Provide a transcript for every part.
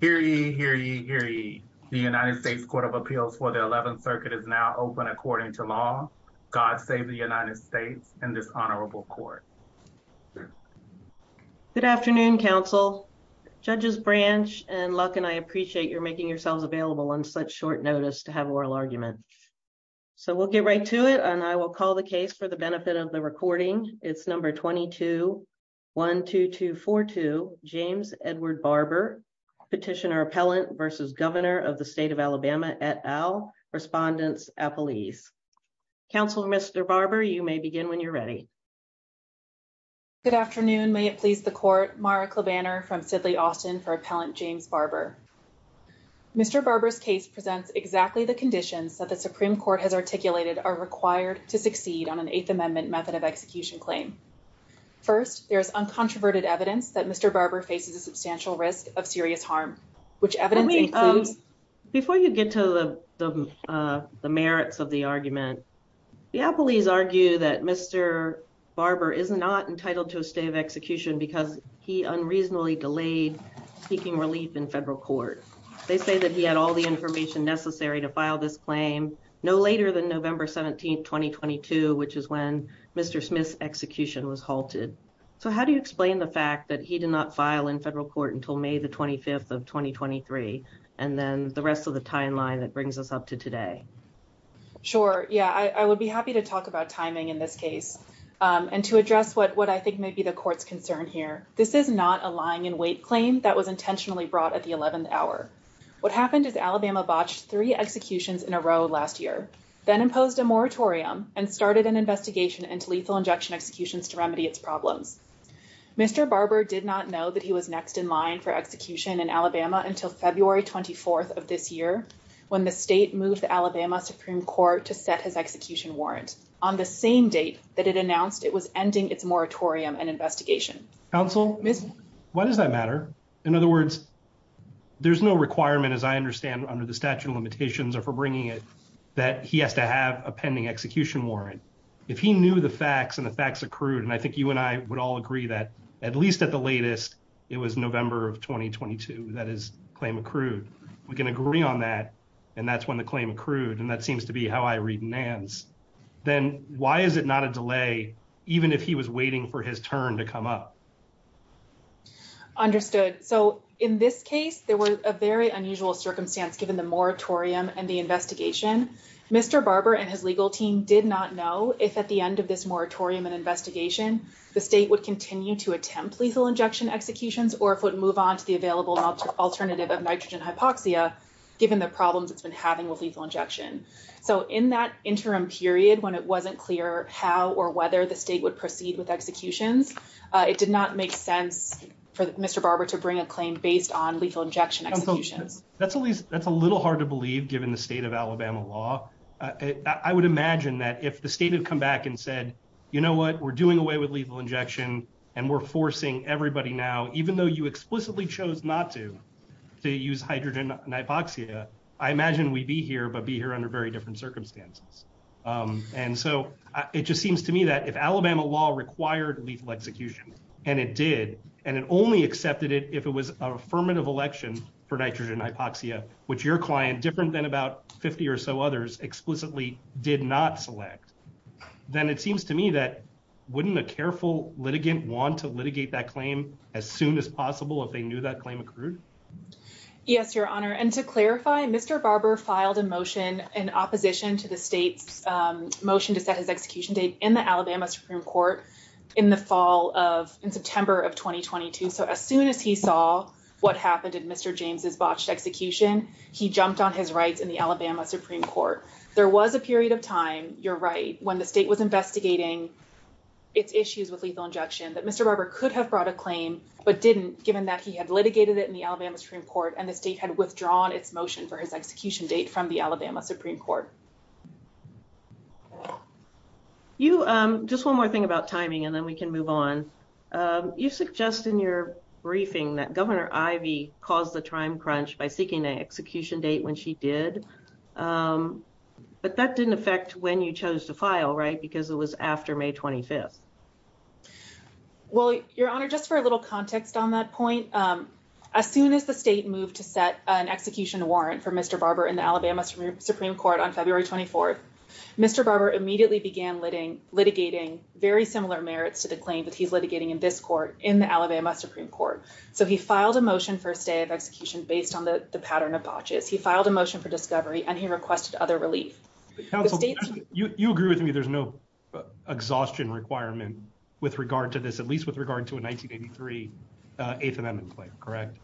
Hear ye, hear ye, hear ye. The United States Court of Appeals for the 11th circuit is now open according to law. God save the United States and this honorable court. Good afternoon, counsel, judges branch and Luck and I appreciate your making yourselves available on such short notice to have oral argument. So we'll get right to it and I will call the case for the benefit of the recording. It's number 22-12242 James Edward Barber Petitioner Appellant v. Governor of the State of Alabama et al. Respondents, appellees. Counselor Mr. Barber, you may begin when you're ready. Good afternoon, may it please the court. Mara Klebanner from Sidley Austin for Appellant James Barber. Mr. Barber's case presents exactly the conditions that the Supreme Court has articulated are required to succeed on an Eighth Amendment method of execution claim. First, there is uncontroverted evidence that Mr. Barber faces a substantial risk of serious harm. Before you get to the merits of the argument, the appellees argue that Mr. Barber is not entitled to a stay of execution because he unreasonably delayed seeking relief in federal court. They say that he had all the information necessary to file this claim no later than November 17, 2022, which is when Mr. Smith's file in federal court until May the 25th of 2023, and then the rest of the timeline that brings us up to today. Sure, yeah, I would be happy to talk about timing in this case and to address what I think may be the court's concern here. This is not a lying in wait claim that was intentionally brought at the 11th hour. What happened is Alabama botched three executions in a row last year, then imposed a moratorium and started an investigation into lethal injection to remedy its problems. Mr. Barber did not know that he was next in line for execution in Alabama until February 24th of this year, when the state moved the Alabama Supreme Court to set his execution warrant on the same date that it announced it was ending its moratorium and investigation. Counsel, why does that matter? In other words, there's no requirement, as I understand, under the statute of limitations or for bringing it, that he has to have a pending execution warrant. If he knew the facts and the facts accrued, and I think you and I would all agree that, at least at the latest, it was November of 2022 that his claim accrued. We can agree on that, and that's when the claim accrued, and that seems to be how I read NANS. Then why is it not a delay even if he was waiting for his turn to come up? Understood. So in this case, there was a very unusual circumstance given the moratorium and the investigation. Mr. Barber and his legal team did not know if at the end of this moratorium and investigation, the state would continue to attempt lethal injection executions or if it would move on to the available alternative of nitrogen hypoxia given the problems it's been having with lethal injection. So in that interim period, when it wasn't clear how or whether the state would proceed with executions, it did not make sense for Mr. Barber to bring a claim based on lethal injection executions. That's at least, that's a state of Alabama law. I would imagine that if the state had come back and said, you know what, we're doing away with lethal injection and we're forcing everybody now, even though you explicitly chose not to, to use hydrogen hypoxia, I imagine we'd be here, but be here under very different circumstances. And so it just seems to me that if Alabama law required lethal execution, and it did, and it only accepted it if it was an affirmative election for nitrogen hypoxia, which your client, different than about 50 or so others, explicitly did not select, then it seems to me that wouldn't a careful litigant want to litigate that claim as soon as possible if they knew that claim occurred? Yes, your honor. And to clarify, Mr. Barber filed a motion in opposition to the state's motion to set his execution date in the Alabama Supreme Court in the fall of, in September of 2022. So as soon as he saw what happened in Mr. James's botched execution, he jumped on his rights in the Alabama Supreme Court. There was a period of time, you're right, when the state was investigating its issues with lethal injection that Mr. Barber could have brought a claim, but didn't given that he had litigated it in the Alabama Supreme Court and the state had withdrawn its motion for his execution date from the Alabama Supreme Court. You, just one more thing about timing and then we can move on. You suggest in your briefing that Governor Ivey caused the time crunch by seeking an execution date when she did, but that didn't affect when you chose to file, right? Because it was after May 25th. Well, your honor, just for a little context on that point, as soon as the state moved to set an execution warrant for Mr. Barber in the Alabama Supreme Court on February 24th, Mr. Barber immediately began litigating very similar merits to the claim that he's litigating in this court in the Alabama Supreme Court. So he filed a motion for a stay of execution based on the pattern of botches. He filed a motion for discovery and he requested other relief. You agree with me, there's no exhaustion requirement with regard to this, at least with regard to a 1983 Eighth Amendment claim, correct?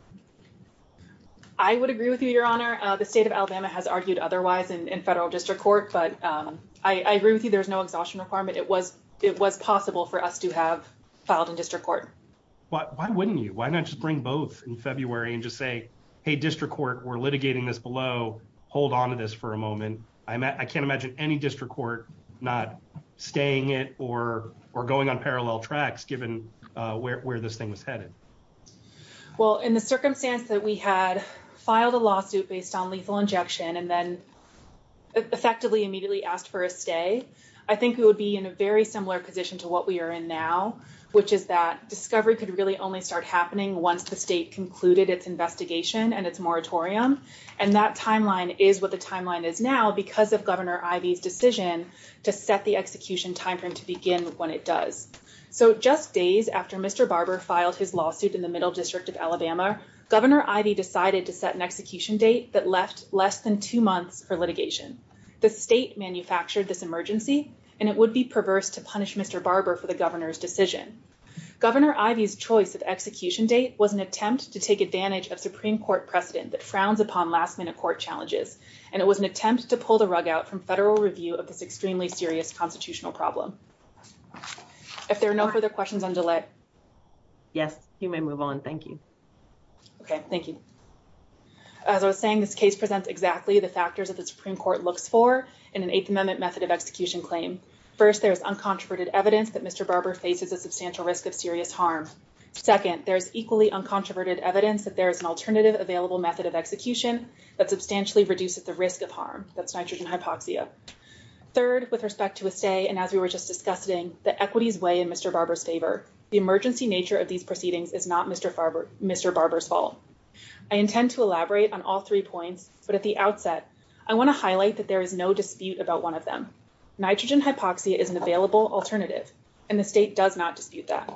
I would agree with you, your honor. The state of Alabama has argued otherwise in federal district court, but I agree with you, there's no exhaustion requirement. It was possible for us to have filed in district court. Why wouldn't you? Why not just bring both in February and just say, hey, district court, we're litigating this below, hold onto this for a moment. I can't imagine any district court not staying it or going on parallel tracks given where this thing was headed. Well, in the circumstance that we had filed a lawsuit based on lethal injection and then effectively immediately asked for a stay, I think we would be in a very similar position to what we are in now, which is that discovery could really only start happening once the state concluded its investigation and its moratorium. And that timeline is what the timeline is now because of Governor Ivey's decision to set the execution timeframe to begin when it does. So just days after Mr. Barber filed his lawsuit in the middle district of Alabama, Governor Ivey decided to set an execution date that left less than two months for litigation. The state manufactured this emergency and it would be perverse to punish Mr. Barber for the governor's decision. Governor Ivey's choice of execution date was an attempt to take advantage of Supreme Court precedent that frowns upon last minute court challenges. And it was an attempt to pull the rug out from federal review of this extremely serious constitutional problem. If there are no further questions, I'm delayed. Yes, you may move on. Thank you. Okay, thank you. As I was saying, this case presents exactly the factors that the Supreme Court looks for in an Eighth Amendment method of execution claim. First, there's uncontroverted evidence that Mr. Barber faces a substantial risk of serious harm. Second, there's equally uncontroverted evidence that there is an alternative available method of execution that substantially reduces the risk of harm. That's nitrogen hypoxia. Third, with respect to a stay, and as we were just discussing, the equities weigh in Mr. Barber's favor. The emergency nature of these proceedings is not Mr. Barber's fault. I intend to elaborate on all three points, but at the outset, I want to highlight that there is no dispute about one of them. Nitrogen hypoxia is an available alternative and the state does not dispute that.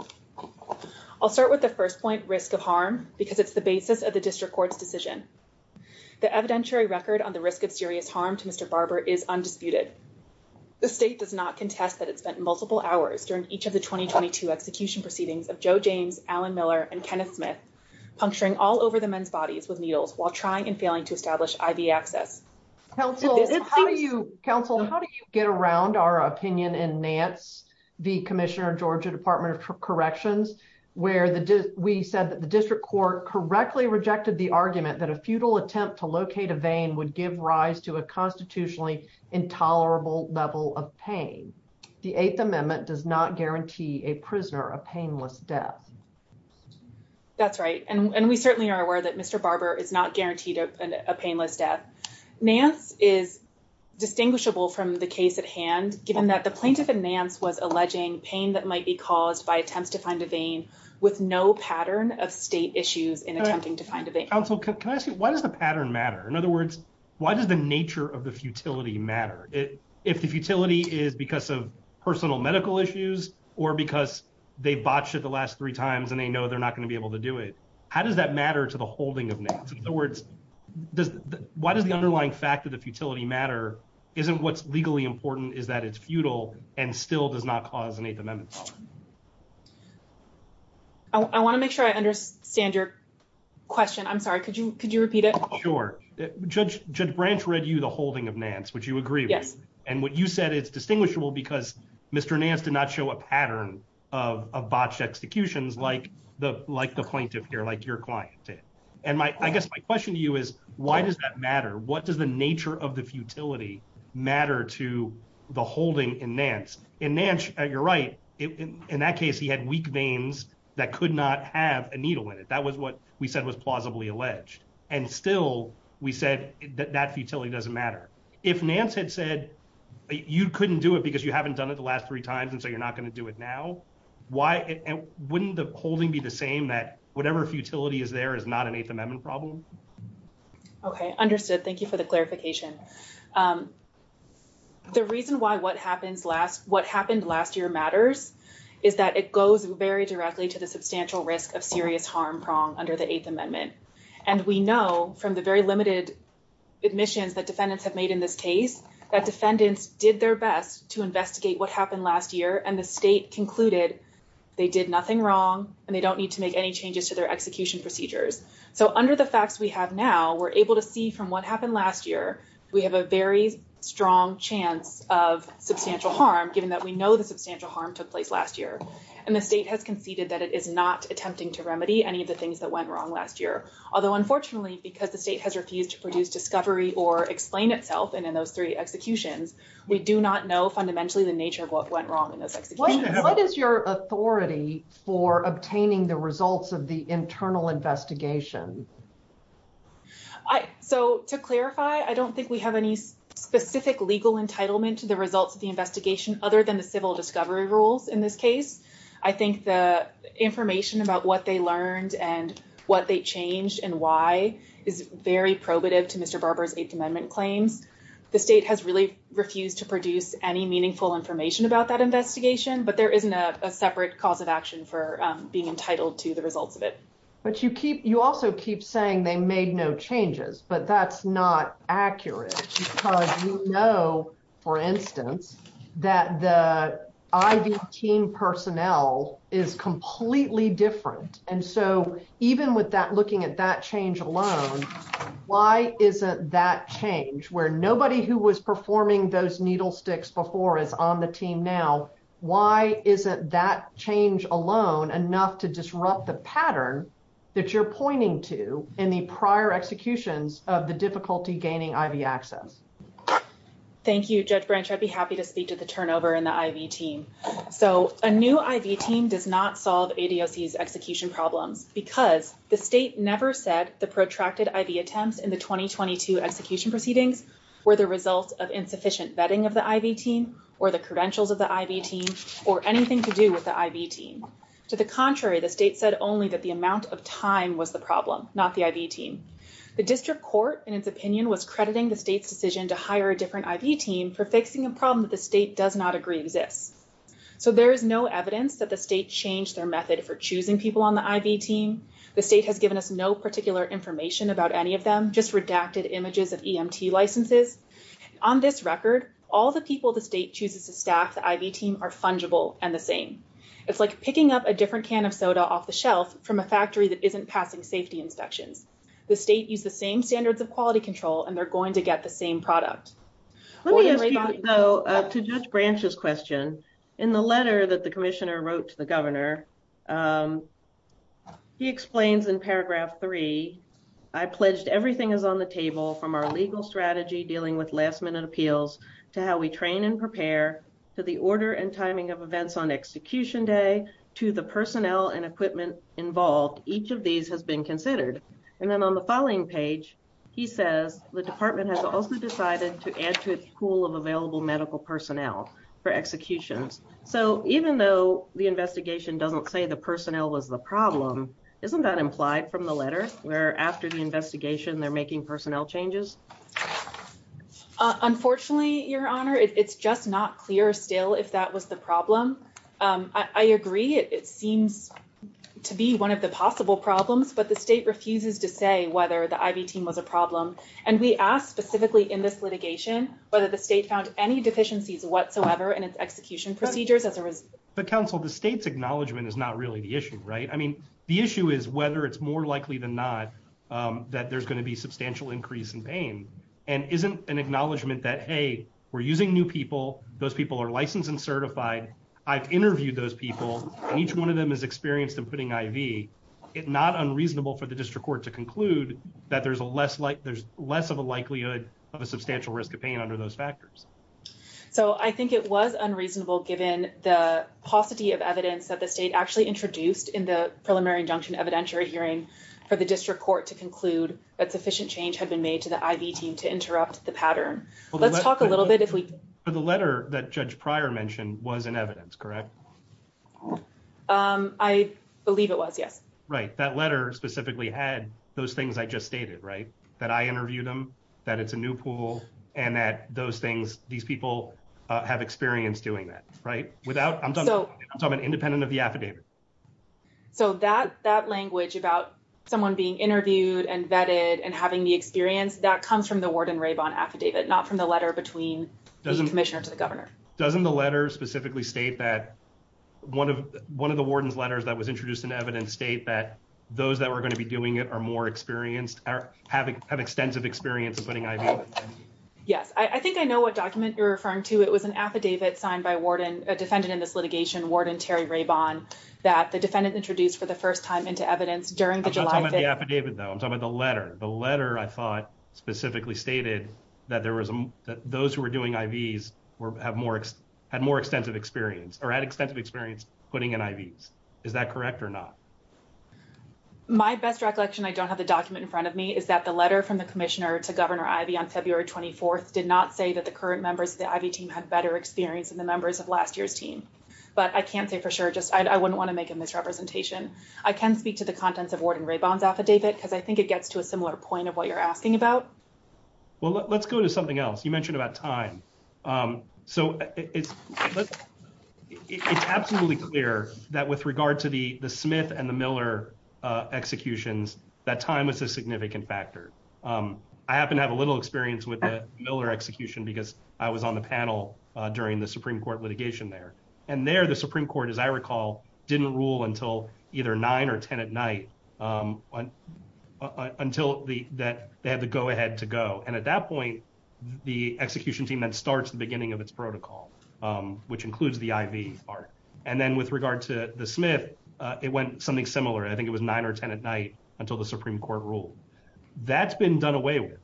I'll start with the first point, risk of harm, because it's the basis of the district court's decision. The evidentiary record on the risk of serious harm to each of the 2022 execution proceedings of Joe James, Alan Miller, and Kenneth Smith, puncturing all over the men's bodies with needles while trying and failing to establish IV access. Counsel, how do you get around our opinion in Nance v. Commissioner Georgia Department of Corrections, where we said that the district court correctly rejected the argument that a futile attempt to locate a vein would give rise to a constitutionally intolerable level of pain. The Eighth Amendment does not guarantee a prisoner a painless death. That's right, and we certainly are aware that Mr. Barber is not guaranteed a painless death. Nance is distinguishable from the case at hand, given that the plaintiff in Nance was alleging pain that might be caused by attempts to find a vein with no pattern of state issues in attempting to find a vein. Counsel, can I ask you, why does the pattern matter? In other words, why does the nature of the futility matter? If the futility is because of personal medical issues or because they botched it the last three times and they know they're not going to be able to do it, how does that matter to the holding of Nance? In other words, why does the underlying fact that the futility matter isn't what's legally important, is that it's futile and still does not cause an Eighth Amendment? I want to make sure I understand your question. I'm sorry, could you could you Sure. Judge Branch read you the holding of Nance, which you agree with. Yes. And what you said is distinguishable because Mr. Nance did not show a pattern of botched executions like the plaintiff here, like your client did. And I guess my question to you is, why does that matter? What does the nature of the futility matter to the holding in Nance? In Nance, you're right, in that case, he had weak veins that could not have a needle in it. That was what we said was plausibly alleged. And still, we said that that futility doesn't matter. If Nance had said, you couldn't do it because you haven't done it the last three times. And so you're not going to do it now. Why wouldn't the holding be the same that whatever futility is there is not an Eighth Amendment problem? Okay, understood. Thank you for the clarification. The reason why what happens last what happened last year matters is that it goes very directly to the substantial risk of serious harm prong under the Eighth Amendment. And we know from the very limited admissions that defendants have made in this case, that defendants did their best to investigate what happened last year, and the state concluded they did nothing wrong, and they don't need to make any changes to their execution procedures. So under the facts we have now, we're able to see from what happened last year, we have a very strong chance of substantial harm, given that we know the substantial harm took place last year. And the state has conceded that it is not attempting to remedy any of the things that went wrong last year. Although unfortunately, because the state has refused to produce discovery or explain itself, and in those three executions, we do not know fundamentally the nature of what went wrong in those executions. What is your authority for obtaining the results of the internal investigation? So to clarify, I don't think we have any specific legal entitlement to the results of the investigation other than the civil discovery rules in this case. I think the information about what they learned and what they changed and why is very probative to Mr. Barber's Eighth Amendment claims. The state has really refused to produce any meaningful information about that investigation, but there isn't a separate cause of action for being entitled to the results of it. But you also keep saying they made no changes, but that's not for instance, that the IV team personnel is completely different. And so even with that, looking at that change alone, why isn't that change where nobody who was performing those needle sticks before is on the team now? Why isn't that change alone enough to disrupt the pattern that you're pointing to in the prior executions of the difficulty gaining IV access? Thank you, Judge Branch. I'd be happy to speak to the turnover in the IV team. So a new IV team does not solve ADOC's execution problems because the state never said the protracted IV attempts in the 2022 execution proceedings were the result of insufficient vetting of the IV team or the credentials of the IV team or anything to do with the IV team. To the contrary, the state said only that the amount of time was the problem, not the IV team. The district court in its opinion was crediting the state's decision to hire a different IV team for fixing a problem that the state does not agree exists. So there is no evidence that the state changed their method for choosing people on the IV team. The state has given us no particular information about any of them, just redacted images of EMT licenses. On this record, all the people the state chooses to staff the IV team are fungible and the same. It's like picking up a different can of soda off the shelf from a factory that isn't passing safety inspections. The state used the same standards of quality control and they're going to get the same product. Let me ask you though, to Judge Branch's question, in the letter that the commissioner wrote to the governor, he explains in paragraph three, I pledged everything is on the table from our legal strategy dealing with last minute appeals to how we train and prepare, to the order and timing of events on execution day, to the personnel and equipment involved. Each of these has been considered. And then on the following page, he says the department has also decided to add to its pool of available medical personnel for executions. So even though the investigation doesn't say the personnel was the problem, isn't that implied from the letter where after the investigation, they're making personnel changes? Unfortunately, your honor, it's just not clear still if that was the problem. I agree. It seems to be one of the possible problems, but the state refuses to say whether the IV team was a problem. And we asked specifically in this litigation, whether the state found any deficiencies whatsoever in its execution procedures as a result. But counsel, the state's acknowledgement is not really the issue, right? I mean, the issue is whether it's more likely than not that there's going to be substantial increase in pain and isn't an acknowledgement that, hey, we're using new people. Those people are licensed and certified. I've interviewed those people and each one of them has experienced them putting IV. It's not unreasonable for the district court to conclude that there's less of a likelihood of a substantial risk of pain under those factors. So I think it was unreasonable given the paucity of evidence that the state actually introduced in the preliminary injunction evidentiary hearing for the district court to conclude that sufficient change had been made to the IV team to interrupt the pattern. Let's talk a little bit. The letter that Judge Pryor mentioned was in evidence, correct? I believe it was, yes. Right. That letter specifically had those things I just stated, right? That I interviewed them, that it's a new pool, and that those things, these people have experience doing that, right? I'm talking independent of the affidavit. So that language about someone being interviewed and vetted and having the experience, that comes from the Warden-Raybon affidavit, not from the letter between the commissioner to the governor. Doesn't the letter specifically state that one of the Warden's letters that was introduced in evidence state that those that were going to be doing it are more experienced, have extensive experience in putting IVs? Yes. I think I know what document you're referring to. It was an affidavit signed by a defendant in this litigation, Warden Terry Raybon, that the defendant introduced for the first time into evidence during the July 15th. I'm not talking about the affidavit, though. I'm talking about the letter. The letter, I thought, specifically stated that those who were IVs had more extensive experience, or had extensive experience putting in IVs. Is that correct or not? My best recollection, I don't have the document in front of me, is that the letter from the commissioner to Governor Ivey on February 24th did not say that the current members of the IV team had better experience than the members of last year's team. But I can't say for sure, just I wouldn't want to make a misrepresentation. I can speak to the contents of Warden Raybon's affidavit, because I think it gets to a similar point of what you're asking about. Well, let's go to something else. You mentioned about time. So it's absolutely clear that with regard to the Smith and the Miller executions, that time was a significant factor. I happen to have a little experience with the Miller execution, because I was on the panel during the Supreme Court litigation there. And there, the Supreme Court, as I recall, didn't rule until either 9 or 10 at night until they had the go ahead to go. And at that point, the execution team then starts the beginning of its protocol, which includes the IV part. And then with regard to the Smith, it went something similar. I think it was 9 or 10 at night until the Supreme Court ruled. That's been done away with.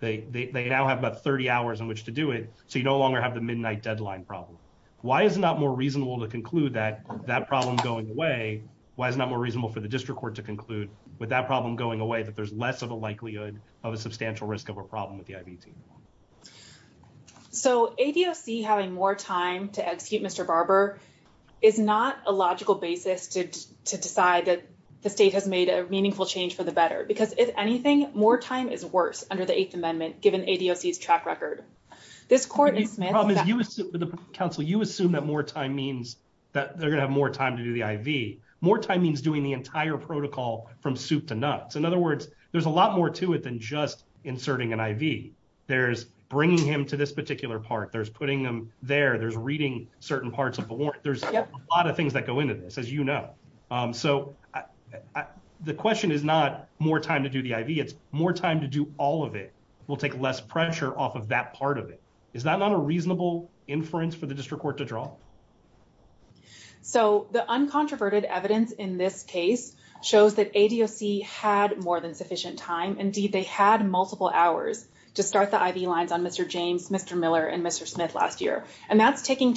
They now have about 30 hours in which to do it, so you no longer have the midnight deadline problem. Why is it not more reasonable to conclude that problem going away? Why is it not more reasonable for the district court to conclude with that problem going away that there's less of a likelihood of a substantial risk of a problem with the IV team? So ADOC having more time to execute Mr. Barber is not a logical basis to decide that the state has made a meaningful change for the better, because if anything, more time is worse under the Eighth Amendment, given ADOC's track record. This Courtney Smith, you assume that more time means that they're going to have more time to do the IV. More time means doing the entire protocol from soup to nuts. In other words, there's a lot more to it than just inserting an IV. There's bringing him to this particular part. There's putting them there. There's reading certain parts of the warrant. There's a lot of things that go into this, as you know. So the question is not more time to do the IV. It's more time to do all of it. We'll take less pressure off of that part of it. Is that not a reasonable inference for the district court to draw? So the uncontroverted evidence in this case shows that ADOC had more than sufficient time. Indeed, they had multiple hours to start the IV lines on Mr. James, Mr. Miller, and Mr. Smith last year. And that's taking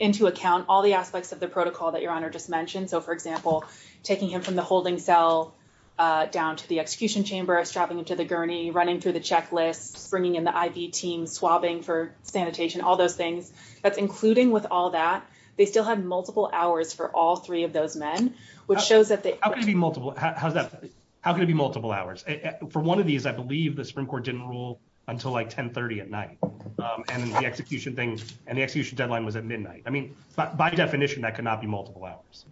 into account all the aspects of the protocol that Your Honor just mentioned. So, for example, taking him from the holding cell down to the checklists, bringing in the IV team, swabbing for sanitation, all those things. That's including with all that. They still had multiple hours for all three of those men, which shows that they How can it be multiple? How's that? How can it be multiple hours? For one of these, I believe the Supreme Court didn't rule until like 10 30 at night. And the execution thing and the execution deadline was at midnight. I mean, by definition, that could not be multiple hours.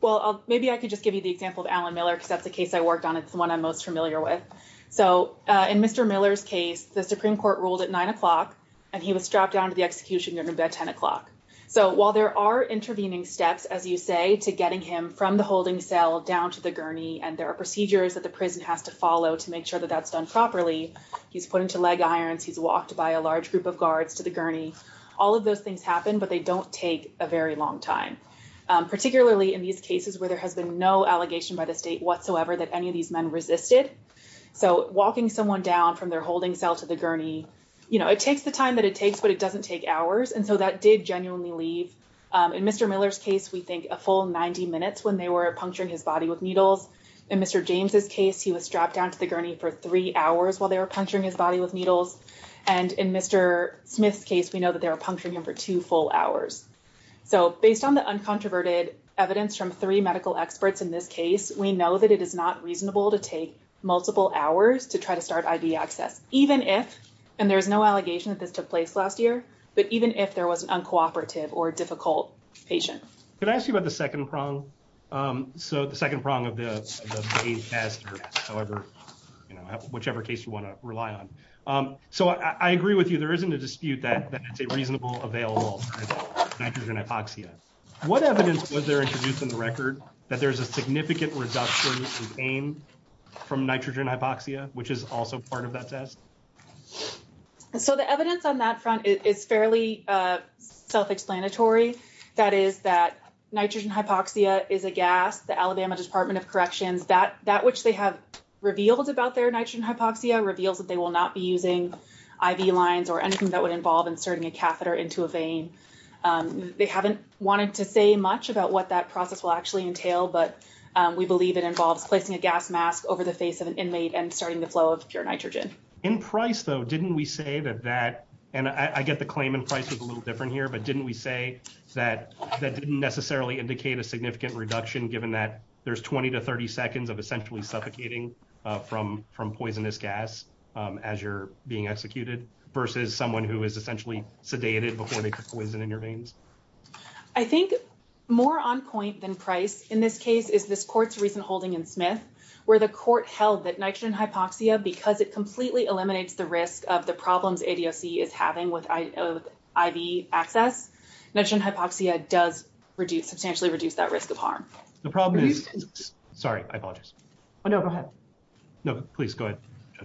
Well, maybe I could just give you the example of Alan Miller because that's the case I worked on. It's the one most familiar with. So in Mr. Miller's case, the Supreme Court ruled at nine o'clock and he was strapped down to the execution during about 10 o'clock. So while there are intervening steps, as you say, to getting him from the holding cell down to the gurney and there are procedures that the prison has to follow to make sure that that's done properly, he's put into leg irons, he's walked by a large group of guards to the gurney. All of those things happen, but they don't take a very long time, particularly in these cases where there has been no allegation by the state whatsoever that any of these men resisted. So walking someone down from their holding cell to the gurney, you know, it takes the time that it takes, but it doesn't take hours. And so that did genuinely leave. In Mr. Miller's case, we think a full 90 minutes when they were puncturing his body with needles. In Mr. James's case, he was strapped down to the gurney for three hours while they were puncturing his body with needles. And in Mr. Smith's case, we know that they were puncturing him for two full hours. So based on the uncontroverted evidence from three medical experts in this case, we know that it is not reasonable to take multiple hours to try to start IV access, even if, and there's no allegation that this took place last year, but even if there was an uncooperative or difficult patient. Can I ask you about the second prong? So the second prong of the, of the aid master, however, you know, whichever case you want to rely on. So I agree with you, there isn't a dispute that it's a reasonable available nitrogen hypoxia. What evidence was introduced in the record that there's a significant reduction in pain from nitrogen hypoxia, which is also part of that test. So the evidence on that front is fairly self-explanatory. That is that nitrogen hypoxia is a gas, the Alabama department of corrections, that, that which they have revealed about their nitrogen hypoxia reveals that they will not be using IV lines or anything that would process will actually entail, but we believe it involves placing a gas mask over the face of an inmate and starting the flow of pure nitrogen. In price though, didn't we say that, that, and I get the claim in price was a little different here, but didn't we say that that didn't necessarily indicate a significant reduction given that there's 20 to 30 seconds of essentially suffocating from, from poisonous gas as you're being executed versus someone who is essentially sedated before they took poison in your veins? I think more on point than price in this case is this court's recent holding in Smith where the court held that nitrogen hypoxia, because it completely eliminates the risk of the problems ADOC is having with IV access, nitrogen hypoxia does reduce substantially reduce that risk of harm. The problem is, sorry, I apologize. Oh no, go ahead. No, please go ahead.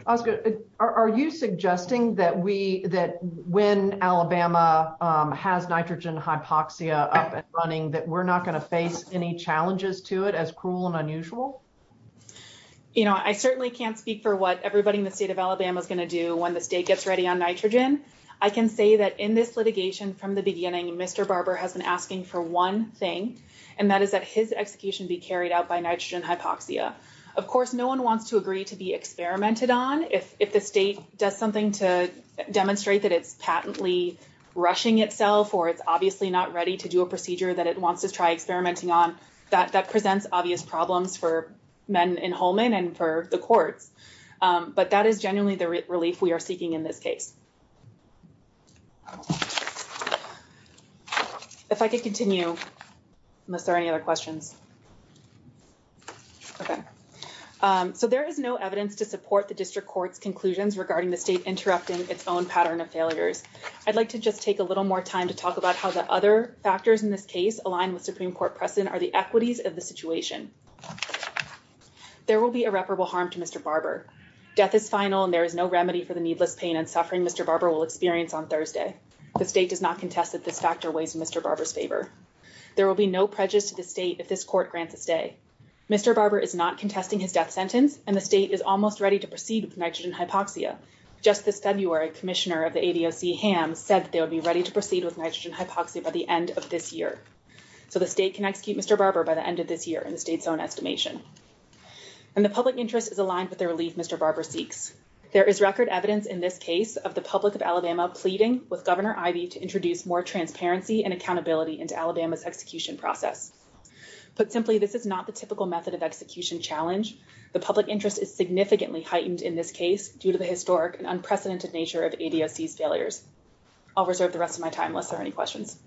Oscar, are you suggesting that we, that when Alabama has nitrogen hypoxia up and running, that we're not going to face any challenges to it as cruel and unusual? You know, I certainly can't speak for what everybody in the state of Alabama is going to do when the state gets ready on nitrogen. I can say that in this litigation from the beginning, Mr. Barber has been asking for one thing, and that is that his execution be carried out by to be experimented on. If, if the state does something to demonstrate that it's patently rushing itself, or it's obviously not ready to do a procedure that it wants to try experimenting on, that, that presents obvious problems for men in Holman and for the courts. But that is genuinely the relief we are seeking in this case. Okay. If I could continue, unless there are any other questions. Okay. So there is no evidence to support the district court's conclusions regarding the state interrupting its own pattern of failures. I'd like to just take a little more time to talk about how the other factors in this case align with Supreme Court precedent are the equities of the situation. There will be irreparable harm to Mr. Barber. Death is final and there is no The state does not contest that this factor weighs in Mr. Barber's favor. There will be no prejudice to the state if this court grants a stay. Mr. Barber is not contesting his death sentence, and the state is almost ready to proceed with nitrogen hypoxia. Just this February, Commissioner of the ADOC Ham said that they would be ready to proceed with nitrogen hypoxia by the end of this year. So the state can execute Mr. Barber by the end of this year in the state's own estimation. And the public interest is aligned with the relief Mr. Barber seeks. There is record evidence in this case of the public of Alabama pleading with Governor Ivey to introduce more transparency and accountability into Alabama's execution process. Put simply, this is not the typical method of execution challenge. The public interest is significantly heightened in this case due to the historic and unprecedented nature of ADOC's failures. I'll reserve the rest of my time unless there are any questions.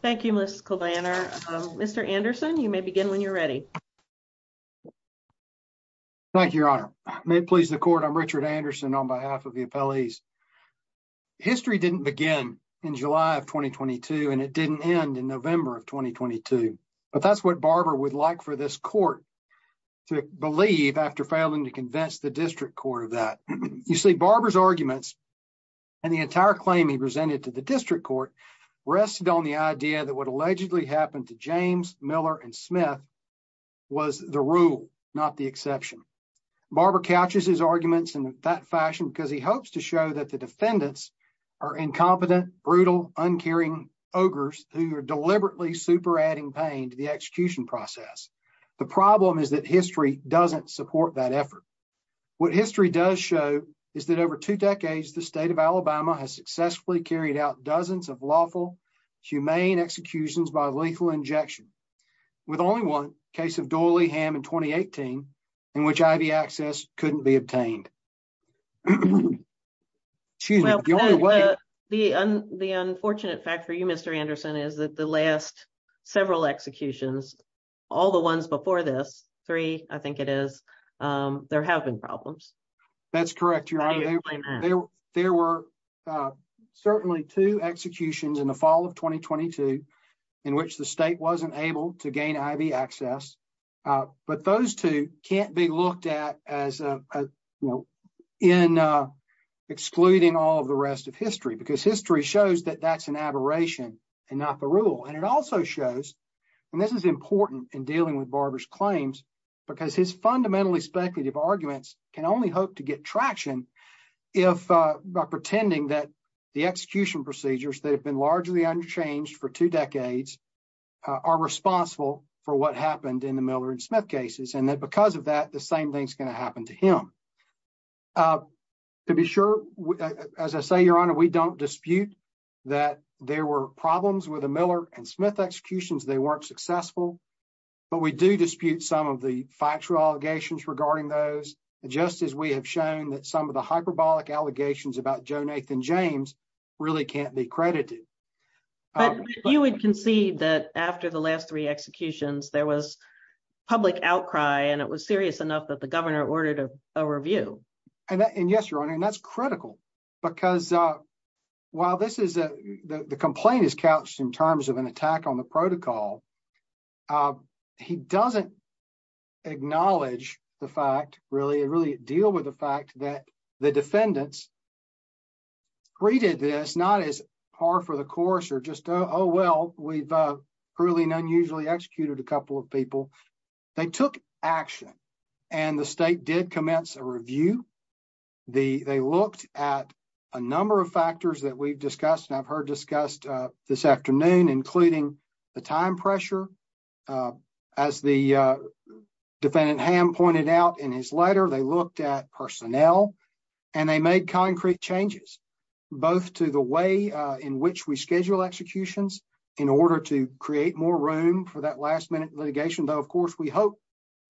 Thank you, Ms. Kovanner. Mr. Anderson, you may begin when you're ready. Thank you, Your Honor. May it please the court, I'm Richard Anderson on behalf of the appellees. History didn't begin in July of 2022, and it didn't end in November of 2022, but that's what Barber would like for this court to believe after failing to convince the district court of that. You see, Barber's arguments and the entire claim he presented to the district court rested on the idea that what allegedly happened to James, Miller, and Smith was the rule, not the exception. Barber couches his arguments in that fashion because he hopes to show that the defendants are incompetent, brutal, uncaring ogres who are deliberately super adding pain to the execution process. The problem is that history doesn't support that effort. What history does show is that over two decades, the state of Alabama has successfully carried out dozens of lawful, humane executions by lethal injection, with only one case of Doiley Ham in 2018 in which IV access couldn't be obtained. The unfortunate fact for you, Mr. Anderson, is that the last several executions, all the ones before this, three I think it is, there have been problems. That's correct, Your Honor. There were certainly two executions in the fall of 2022 in which the state wasn't able to gain IV access, but those two can't be looked at as, you know, in excluding all of the rest of history because history shows that that's an aberration and not the rule. And it also shows, and this is important in dealing with Barber's fundamentally speculative arguments, can only hope to get traction if by pretending that the execution procedures that have been largely unchanged for two decades are responsible for what happened in the Miller and Smith cases, and that because of that, the same thing's going to happen to him. To be sure, as I say, Your Honor, we don't dispute that there were problems with regarding those, just as we have shown that some of the hyperbolic allegations about Joe Nathan James really can't be credited. But you would concede that after the last three executions, there was public outcry and it was serious enough that the governor ordered a review. And yes, Your Honor, and that's critical because while this is, the complaint is couched in terms of an attack on the protocol, he doesn't acknowledge the fact, really, really deal with the fact that the defendants redid this, not as par for the course or just, oh well, we've cruelly and unusually executed a couple of people. They took action and the state did commence a review. They looked at a number of factors that we've discussed and I've heard discussed this afternoon, including the time pressure. As the defendant Ham pointed out in his letter, they looked at personnel and they made concrete changes, both to the way in which we schedule executions in order to create more room for that last minute litigation, though, of course, we hope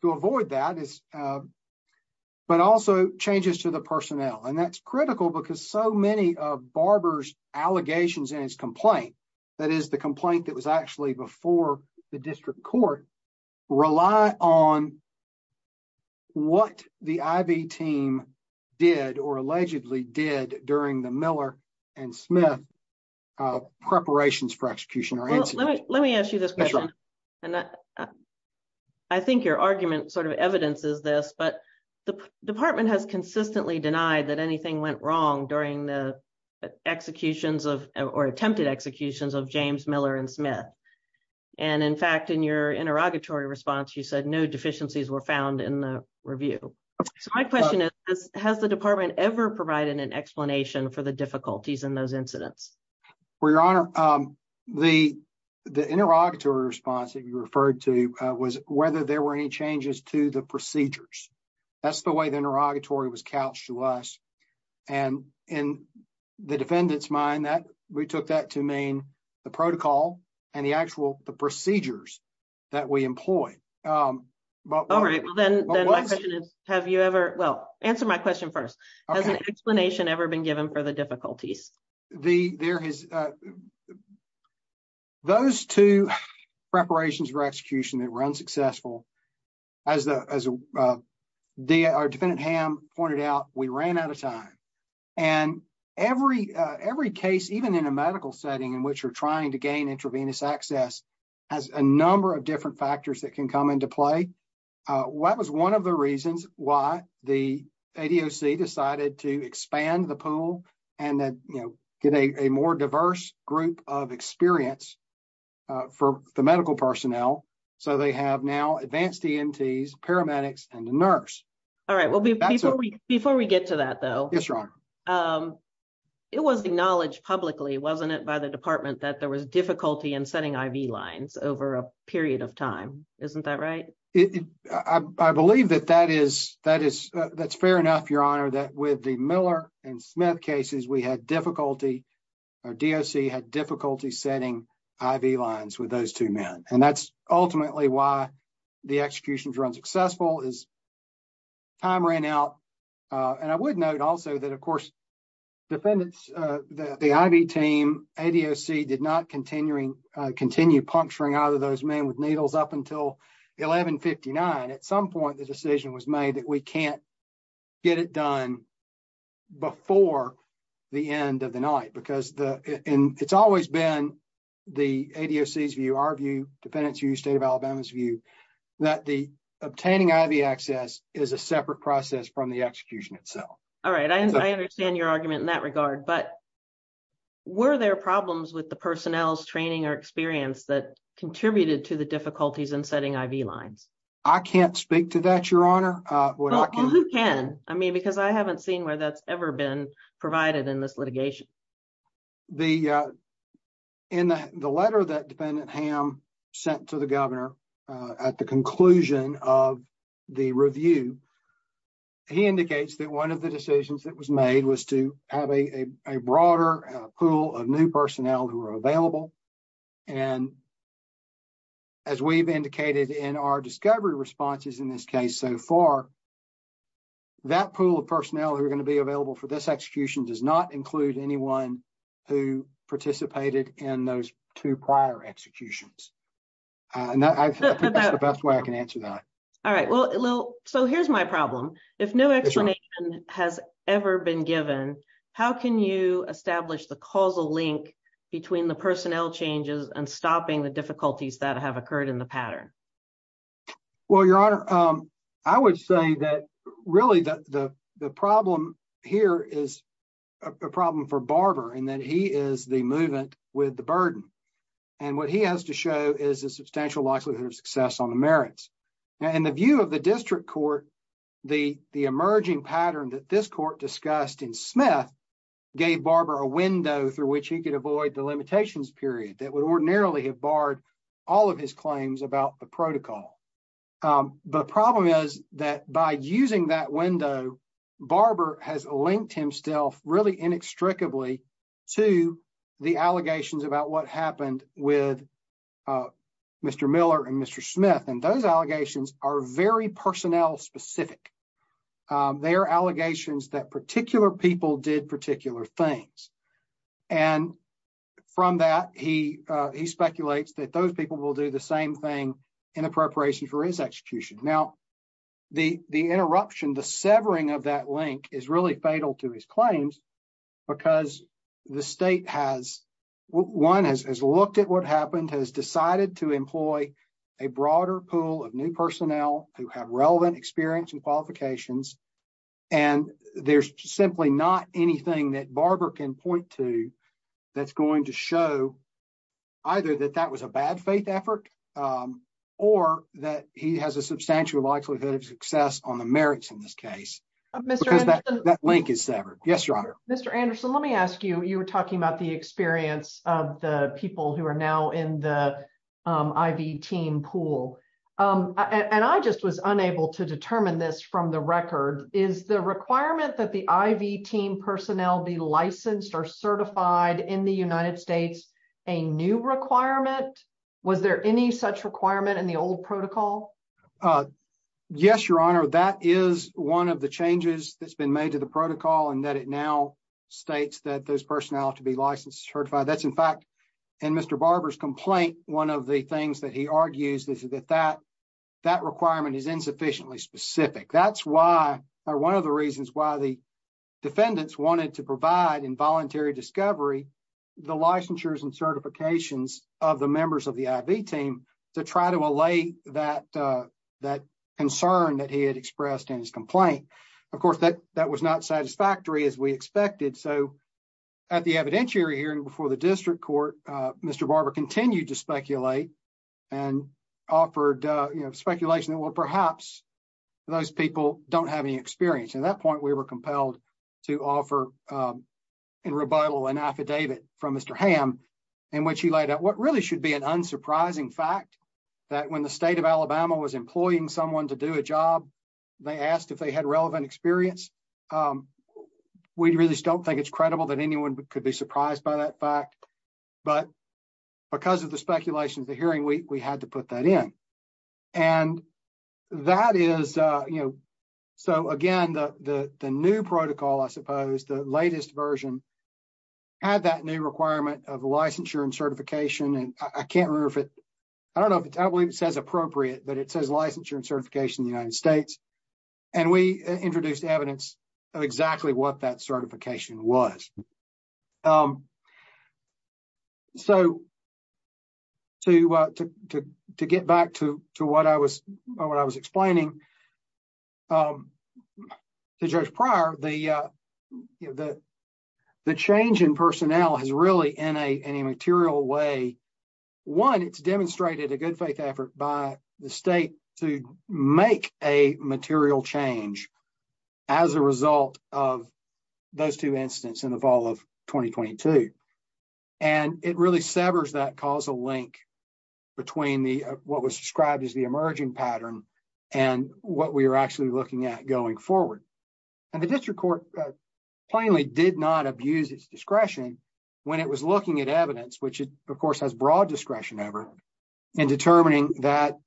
to avoid that, but also changes to the personnel. And that's critical because so many of Barber's allegations in his complaint, that is the complaint that was actually before the district court, rely on what the I.V. team did or allegedly did during the Miller and Smith preparations for execution or incident. Let me ask you this question. I think your argument sort of evidences this, but the department has consistently denied that anything went wrong during the executions or attempted executions of James Miller and Smith. And in fact, in your interrogatory response, you said no deficiencies were found in the review. So my question is, has the department ever provided an explanation for the difficulties in those incidents? Well, your honor, the interrogatory response that you referred to was whether there were any changes to the procedures. That's the way the interrogatory was couched to us. And in the defendant's mind, that we took that to mean the protocol and the actual the procedures that we employ. All right. Well, then my question is, have you ever. Well, answer my question first. Has an explanation ever been given for the difficulties? The there is. Those two preparations for execution that were unsuccessful as the as our defendant Ham pointed out, we ran out of time and every every case, even in a medical setting in which you're trying to gain intravenous access as a number of different factors that can come into play. What was one of the reasons why the ADOC decided to expand the pool and that, you know, get a more diverse group of experience for the medical personnel? So they have now advanced EMTs, paramedics and the nurse. All right. Well, before we get to that, though, it was acknowledged publicly, wasn't it, by the department that there was difficulty in setting IV lines over a period of time. Isn't that right? I believe that that is that is that's fair enough, your honor, that with the Miller and Smith cases, we had difficulty or DOC had difficulty setting IV lines with those two men. And that's ultimately why the execution was unsuccessful is. Time ran out, and I would note also that, of course, defendants, the IV team, ADOC did not continuing continue puncturing out of those men with needles up until eleven fifty nine. At some point, the decision was made that we can't get it done before the end of the night, because it's always been the ADOC's view, our view, defendant's view, state of Alabama's view, that the obtaining IV access is a separate process from the execution itself. All right. I understand your argument in that regard. But were there problems with the personnel's training or experience that contributed to the difficulties in setting IV lines? I can't speak to that, your honor. Well, who can? I mean, because I haven't seen where that's ever been provided in this litigation. The in the letter that defendant Ham sent to the governor at the conclusion of the review, he indicates that one of the decisions that was made was to have a broader pool of new personnel who are available. And as we've indicated in our discovery responses in this case so far. That pool of personnel who are going to be available for this execution does not include anyone who participated in those two prior executions. And that's the best way I can answer that. All right. Well, so here's my problem. If no explanation has ever been given, how can you establish the causal link between the personnel changes and stopping the difficulties that have occurred in the pattern? Well, your honor, I would say that really the problem here is a problem for Barber and that he is the movement with the burden. And what he has to show is a substantial likelihood of success on the merits and the view of the district court. The emerging pattern that this court discussed in Smith gave Barber a window through which he could avoid the limitations period that would ordinarily have barred all of his claims about the protocol. The problem is that by using that window, Barber has linked himself really inextricably to the allegations about what happened with Mr. Miller and Mr. Smith. And those allegations are very personnel specific. They are allegations that particular people did particular things. And from that, he speculates that those people will do the same thing in preparation for his execution. Now, the interruption, the severing of that link is really fatal to his claims because the state has one has looked at what happened, has decided to employ a broader pool of new personnel who have relevant experience and qualifications. And there's simply not anything that Barber can point to that's going to show either that that was a bad faith effort or that he has a substantial likelihood of success on the merits in this case. That link is severed. Yes, Your Honor. Mr. Anderson, let me ask you, you were talking about the experience of the people who are now in the IV team pool. And I just was unable to is the requirement that the IV team personnel be licensed or certified in the United States, a new requirement? Was there any such requirement in the old protocol? Yes, Your Honor. That is one of the changes that's been made to the protocol and that it now states that those personnel to be licensed certified. That's in fact, and Mr. Barber's complaint. One of the things that he argues is that that that requirement is insufficiently specific. That's why one of the reasons why the defendants wanted to provide involuntary discovery, the licensures and certifications of the members of the IV team to try to allay that concern that he had expressed in his complaint. Of course, that was not satisfactory as we expected. So at the evidentiary hearing before the district court, Mr. Barber continued to speculate and offered speculation that, well, perhaps those people don't have any experience. At that point, we were compelled to offer in rebuttal an affidavit from Mr. Hamm in which he laid out what really should be an unsurprising fact that when the state of Alabama was employing someone to do a job, they asked if they had relevant experience. We really don't think it's credible that anyone could be surprised by that fact, but because of the speculation of the hearing, we had to put that in. And that is, you know, so again, the new protocol, I suppose, the latest version, had that new requirement of licensure and certification. And I can't remember if it, I don't know if it's, I believe it says appropriate, but it says licensure and certification in the United States, and we introduced evidence of exactly what that certification was. So to get back to what I was explaining to Judge Pryor, the change in personnel has really in a material way, one, it's demonstrated a good faith effort by the state to make a material change as a result of those two incidents in the fall of 2022. And it really severs that causal link between what was described as the emerging pattern and what we were actually looking at going forward. And the district court plainly did not abuse its discretion when it was looking at broad discretion over and determining that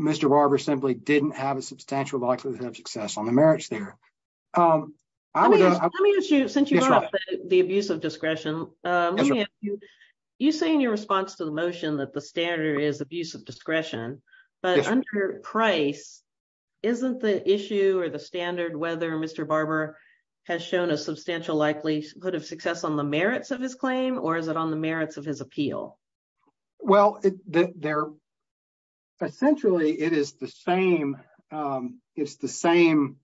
Mr. Barber simply didn't have a substantial likelihood of success on the merits there. Let me ask you, since you brought up the abuse of discretion, you say in your response to the motion that the standard is abuse of discretion, but under Price, isn't the issue or the standard whether Mr. Barber has shown a substantial likelihood of success on the merits of his claim, or is it on the merits of his appeal? Well, essentially, it's the same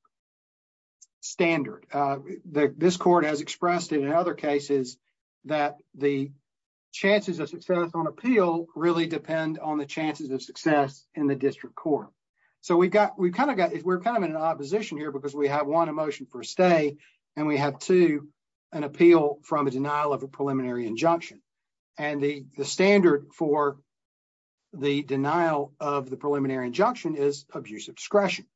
standard. This court has expressed in other cases that the chances of success on appeal really depend on the chances of success in the district court. So we're kind of in an opposition here because we have one emotion for a stay, and we have to an appeal from a denial of a preliminary injunction. And the standard for the denial of the preliminary injunction is abuse of discretion.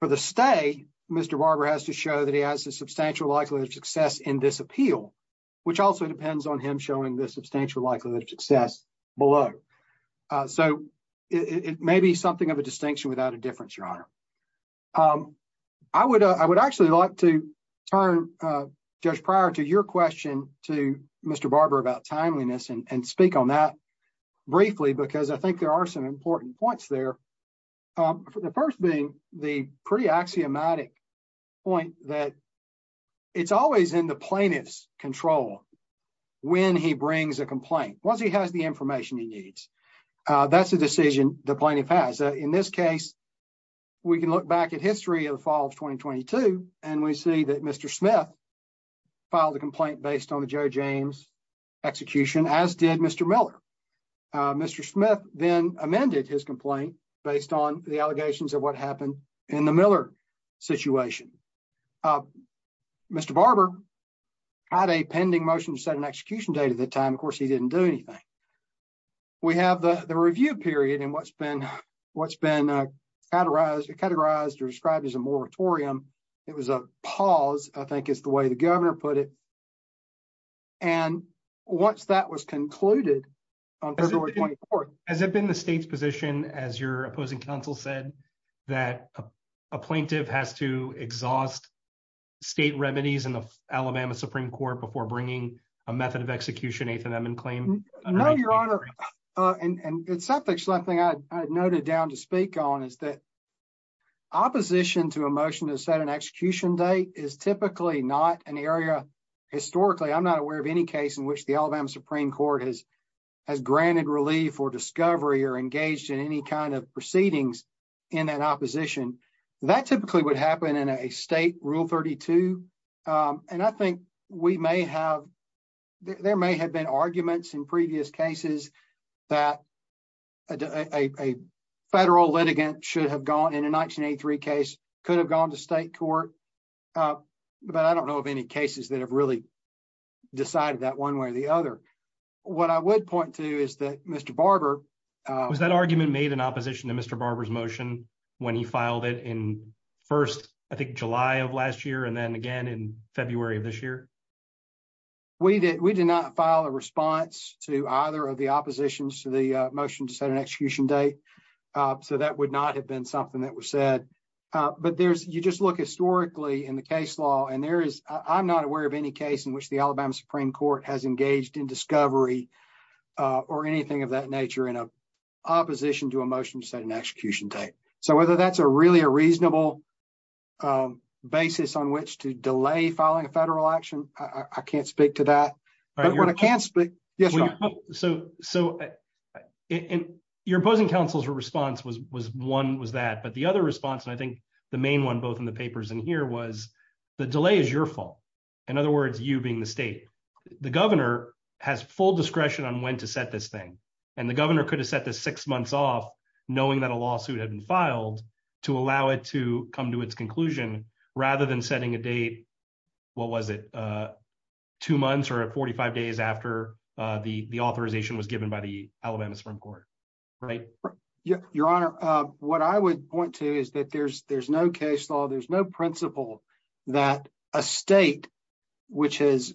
For the stay, Mr. Barber has to show that he has a substantial likelihood of success in this appeal, which also depends on him showing the substantial likelihood of success below. So it may be something of a distinction without a difference, Your Honor. I would actually like to turn, Judge Pryor, to your question to Mr. Barber about timeliness and speak on that briefly, because I think there are some important points there. The first being the pretty axiomatic point that it's always in the plaintiff's control when he brings a complaint, once he has the information he needs. That's the decision the plaintiff has. In this case, we can look back at history of the fall of 2022, and we see that Mr. Smith filed a complaint based on the Joe James execution, as did Mr. Miller. Mr. Smith then amended his complaint based on the allegations of what happened in the Miller situation. Mr. Barber had a pending motion to set an execution date at the time. Of course, he didn't do anything. We have the review period and what's been categorized or described as a moratorium. It was a pause, I think is the way the governor put it. And once that was concluded on February 24th... Has it been the state's position, as your opposing counsel said, that a plaintiff has to exhaust state remedies in the Alabama Supreme Court before bringing a method of execution, an eighth amendment claim? No, your honor. And it's something I noted down to speak on, is that opposition to a motion to set an execution date is typically not an area. Historically, I'm not aware of any case in which the Alabama Supreme Court has granted relief or discovery or engaged in any kind of proceedings in that opposition. That typically would happen in a state rule 32. And I think there may have been arguments in previous cases that a federal litigant should have gone in a 1983 case, could have gone to state court. But I don't know of any cases that have really decided that one way or the other. What I would point to is that Mr. Barber... Was that argument made in opposition to Mr. Barber's motion to file it in first, I think, July of last year, and then again in February of this year? We did not file a response to either of the oppositions to the motion to set an execution date. So that would not have been something that was said. But you just look historically in the case law, and I'm not aware of any case in which the Alabama Supreme Court has engaged in discovery or anything of that nature in opposition to a motion to set an execution date. Is there really a reasonable basis on which to delay filing a federal action? I can't speak to that. But what I can speak... Yes, sir. So your opposing counsel's response was one was that, but the other response, and I think the main one, both in the papers and here, was the delay is your fault. In other words, you being the state. The governor has full discretion on when to set this thing. And the governor could set the six months off knowing that a lawsuit had been filed to allow it to come to its conclusion, rather than setting a date. What was it? Two months or 45 days after the authorization was given by the Alabama Supreme Court, right? Your Honor, what I would point to is that there's no case law, there's no principle that a state which is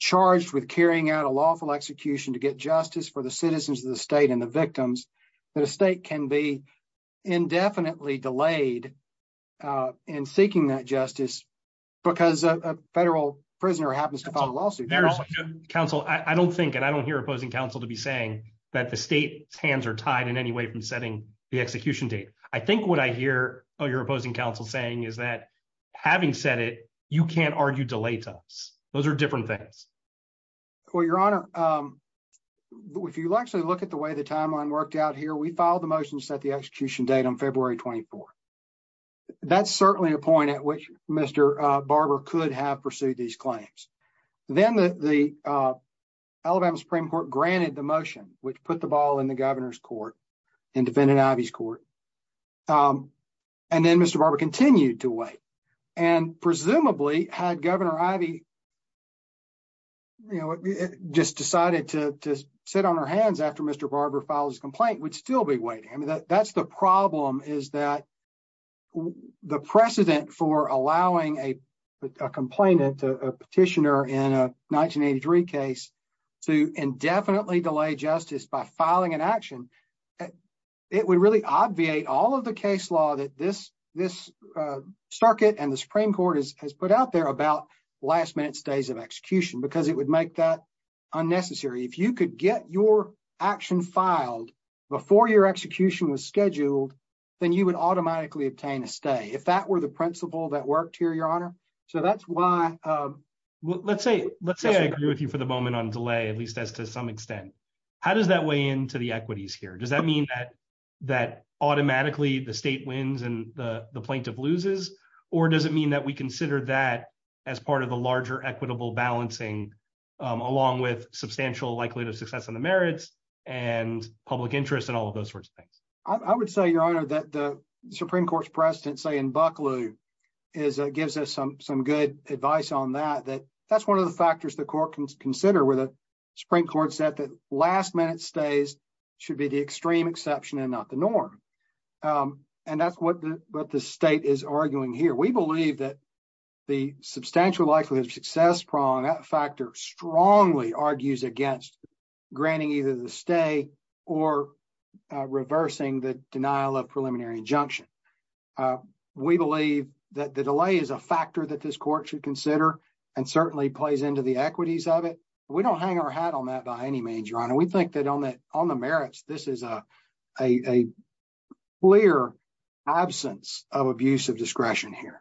charged with carrying out a lawful execution to get justice for the citizens of the state and the victims, that a state can be indefinitely delayed in seeking that justice because a federal prisoner happens to file a lawsuit. Counsel, I don't think and I don't hear opposing counsel to be saying that the state's hands are tied in any way from setting the execution date. I think what I hear your opposing counsel saying is that having said it, you can't argue delay to us. Those are different things. Well, Your Honor, if you actually look at the way the timeline worked out here, we filed the motions at the execution date on February 24. That's certainly a point at which Mr. Barber could have pursued these claims. Then the Alabama Supreme Court granted the motion, which put the ball in the governor's court and defended Ivey's court. And then Mr. Barber continued to wait. And presumably had Governor Ivey just decided to sit on her hands after Mr. Barber filed his complaint, would still be waiting. I mean, that's the problem is that the precedent for allowing a complainant, a petitioner in a 1983 case to indefinitely delay justice by filing an action. It would really obviate all of the case law that this circuit and the Supreme Court has put out there about last minute stays of execution because it would make that unnecessary. If you could get your action filed before your execution was scheduled, then you would automatically obtain a stay. If that were the principle that worked here, Your Honor. So that's why. Let's say I agree with you for the moment on delay, at least as to some extent. How does that weigh into the equities here? Does that mean that automatically the state wins and the plaintiff loses? Or does it mean that we consider that as part of the larger equitable balancing, along with substantial likelihood of success in the merits and public interest and all of those sorts of things? I would say, Your Honor, that the Supreme Court's precedent say in Bucklew gives us some good advice on that. That's one of the factors the court can consider with the Supreme Court said that last minute stays should be the extreme exception and not the norm. And that's what the state is arguing here. We believe that the substantial likelihood of success prong that factor strongly argues against granting either the stay or reversing the denial of preliminary injunction. Uh, we believe that the delay is a factor that this court should consider and certainly plays into the equities of it. We don't hang our hat on that by any means, Your Honor. We think that on that on the merits, this is a a clear absence of abusive discretion here.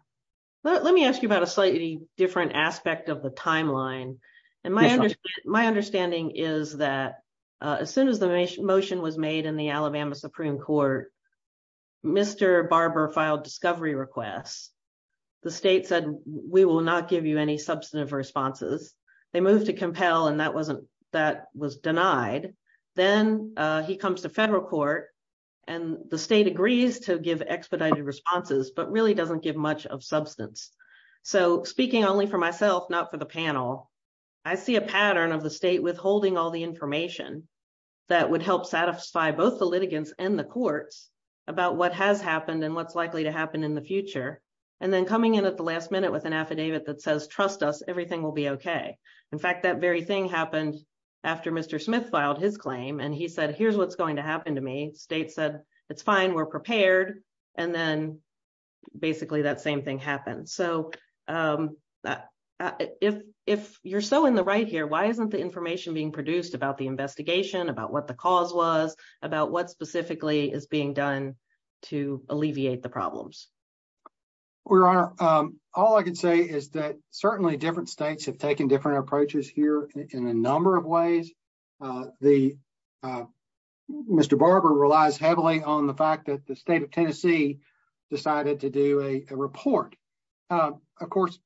Let me ask you about a slightly different aspect of the timeline. And my my understanding is that as soon as the motion was made in the Alabama Supreme Court, Mr. Barber filed discovery requests. The state said, We will not give you any substantive responses. They moved to compel and that wasn't that was denied. Then he comes to federal court and the state agrees to give expedited responses, but really doesn't give much of substance. So speaking only for myself, not for the panel, I see a both the litigants and the courts about what has happened and what's likely to happen in the future and then coming in at the last minute with an affidavit that says, trust us, everything will be OK. In fact, that very thing happened after Mr. Smith filed his claim. And he said, here's what's going to happen to me. State said, it's fine. We're prepared. And then basically that same thing happened. So that if if you're so in the right here, why isn't the information being produced about the investigation, about what the cause was, about what specifically is being done to alleviate the problems? We are all I can say is that certainly different states have taken different approaches here in a number of ways. The Mr. Barber relies heavily on the fact that the state of Tennessee decided to do a report. Of course,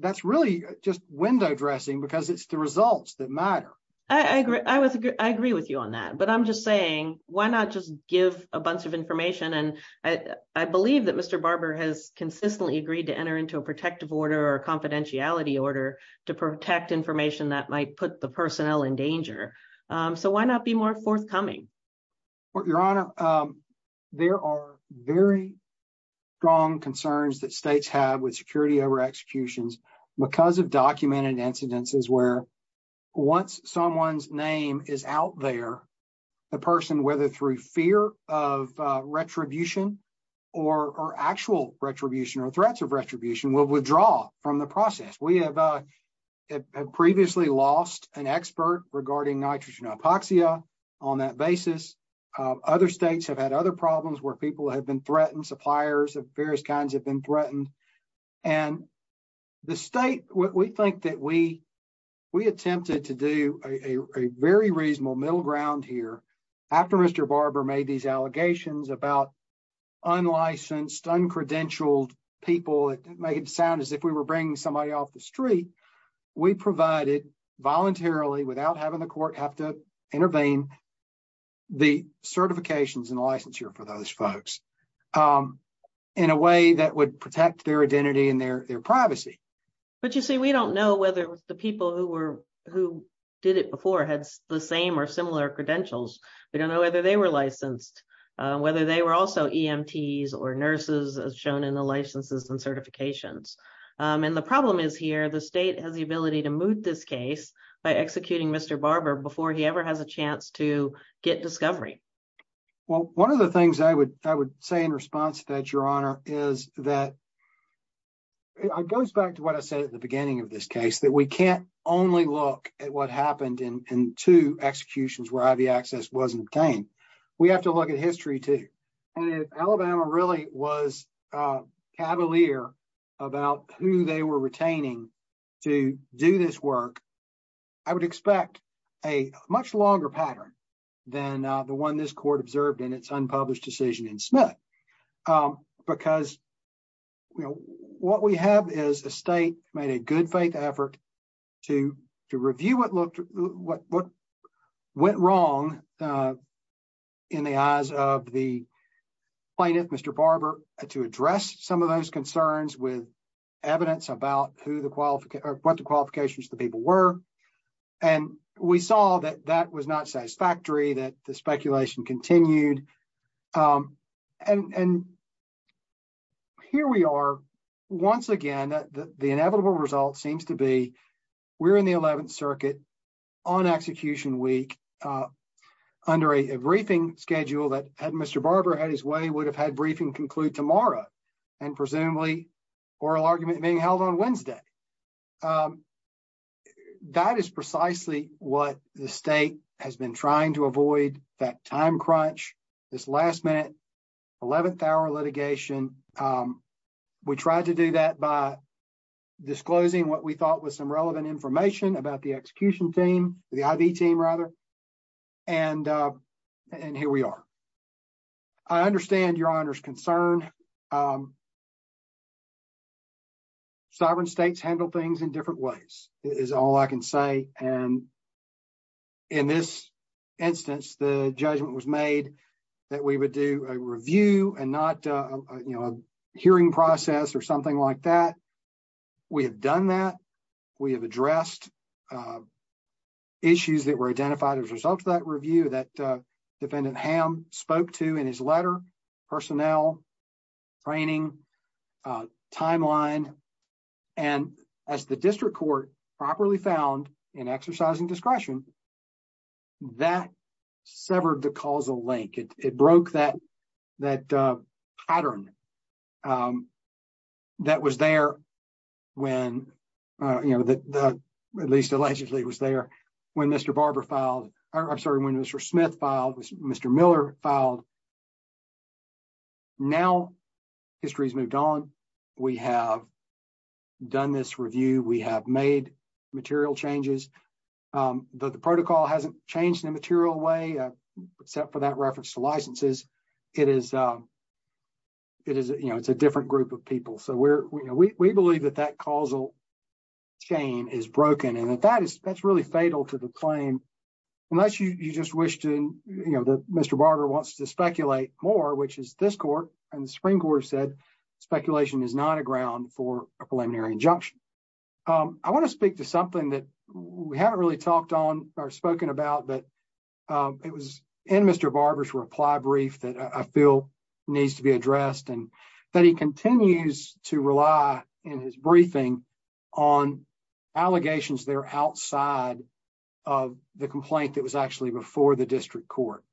that's really just window dressing because it's the results that matter. I agree. I agree with you on that. But I'm just saying, why not just give a bunch of information? And I believe that Mr. Barber has consistently agreed to enter into a protective order or confidentiality order to protect information that might put the personnel in danger. So why not be more forthcoming? Your Honor, there are very strong concerns that states have with security over executions because of documented incidences where once someone's name is out there, the person, whether through fear of retribution or actual retribution or threats of retribution, will withdraw from the process. We have previously lost an expert regarding nitrogen hypoxia on that basis. Other states have had other problems where people have been threatened, suppliers of various kinds have been threatened. And the state, we think that we attempted to do a very reasonable middle ground here after Mr. Barber made these allegations about unlicensed, uncredentialed people. It made it sound as if we were bringing somebody off the street. We provided voluntarily without having the court have to intervene the certifications and licensure for those folks in a way that would protect their identity and their privacy. But you see, we don't know whether the people who did it before had the same or similar credentials. We don't know whether they were licensed, whether they were also EMTs or nurses as shown in the licenses and certifications. And the problem is here, the state has the ability to move this case by executing Mr. Barber before he ever has a chance to get discovery. Well, one of the things I would say in response to that, Your Honor, is that it goes back to what I said at the beginning of this case, that we can't only look at what happened in two executions where IV access wasn't obtained. We have to look at history too. And if Alabama really was cavalier about who they were retaining to do this work, I would expect a much longer pattern than the one this court observed in its unpublished decision in Smith. Because, you know, what we have is a state made a good faith effort to review what went wrong in the eyes of the plaintiff, Mr. Barber, to address some of those concerns with evidence about what the qualifications of the people were. And we saw that that was not satisfactory, that speculation continued. And here we are, once again, the inevitable result seems to be we're in the 11th Circuit on execution week under a briefing schedule that had Mr. Barber had his way would have had briefing conclude tomorrow and presumably oral argument being held on Wednesday. Um, that is precisely what the state has been trying to avoid that time crunch, this last minute, 11th hour litigation. Um, we tried to do that by disclosing what we thought was some relevant information about the execution team, the IV team rather. And, uh, and here we are. I understand your honor's concern. Um, sovereign states handle things in different ways is all I can say. And in this instance, the judgment was made that we would do a review and not, uh, you know, a hearing process or something like that. We have done that. We have addressed, uh, issues that were identified as that review that defendant Ham spoke to in his letter personnel training timeline. And as the district court properly found in exercising discretion, that severed the causal link. It broke that, that, uh, pattern, um, that was there when, uh, you know, the, the, at least allegedly was there when Mr. Barber filed. I'm sorry, when Mr. Smith filed was Mr. Miller filed. Now history's moved on. We have done this review. We have made material changes. Um, the protocol hasn't changed in a material way, uh, except for that reference to licenses. It is, um, it is, you know, it's a different group of people. So we're, we, we believe that that causal chain is broken and that that is, that's really fatal to the claim unless you, you just wish to, you know, the Mr. Barber wants to speculate more, which is this court and the spring quarter said, speculation is not a ground for a preliminary injunction. Um, I want to speak to something that we haven't really talked on or spoken about, but, um, it was in Mr. Barber's reply brief that I feel needs to be addressed and that he continues to rely in his briefing on allegations there outside of the complaint that was actually before the district court.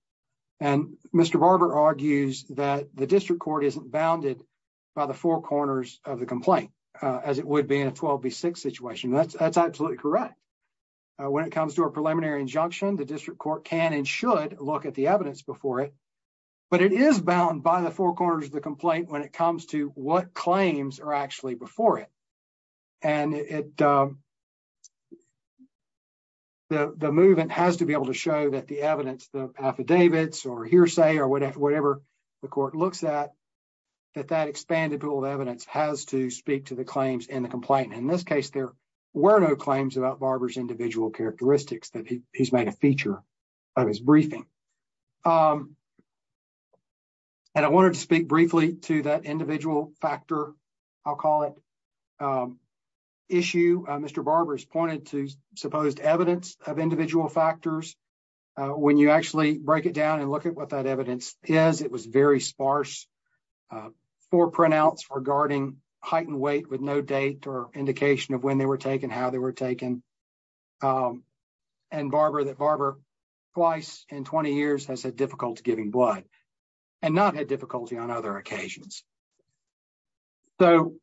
And Mr. Barber argues that the district court isn't bounded by the four corners of the complaint, uh, as it would be in a 12 B six situation. That's, that's absolutely correct. When it comes to a preliminary injunction, the district court can and should look at the evidence before it, but it is bound by the four corners of the complaint when it comes to what claims are actually before it. And it, um, the, the movement has to be able to show that the evidence, the affidavits or hearsay or whatever, whatever the court looks at, that that expanded pool of evidence has to speak to the claims in the complaint. And in this case, there were no claims about Barber's individual characteristics that he's made a feature of his briefing. Um, and I wanted to speak briefly to that individual factor. I'll call it, um, issue. Mr. Barber's pointed to supposed evidence of individual factors. Uh, when you actually break it down and look at what that evidence is, it was very sparse, uh, four printouts regarding heightened weight with no date or indication of when they were taken, how they were taken. Um, and Barber that Barber twice in 20 years has had difficulty giving blood and not had difficulty on other occasions. So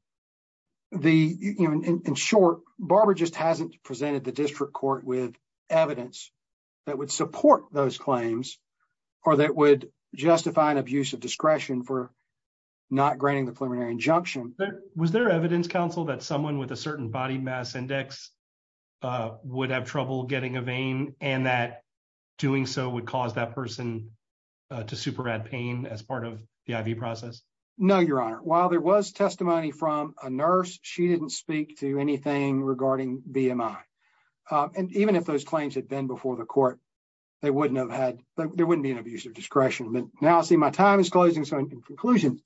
the, you know, in short Barber just hasn't presented the district court with evidence that would support those claims or that would justify an abuse of discretion for not granting the preliminary injunction. Was there evidence council that someone with a certain body mass index, uh, would have trouble getting a vein and that doing so would cause that person to super add pain as part of the IV process? No, your honor. While there was testimony from a nurse, she didn't speak to anything regarding BMI. Um, and even if those claims had been before the court, they wouldn't have had, there wouldn't be an abuse of discretion. But now I see my time is closing. So in conclusion,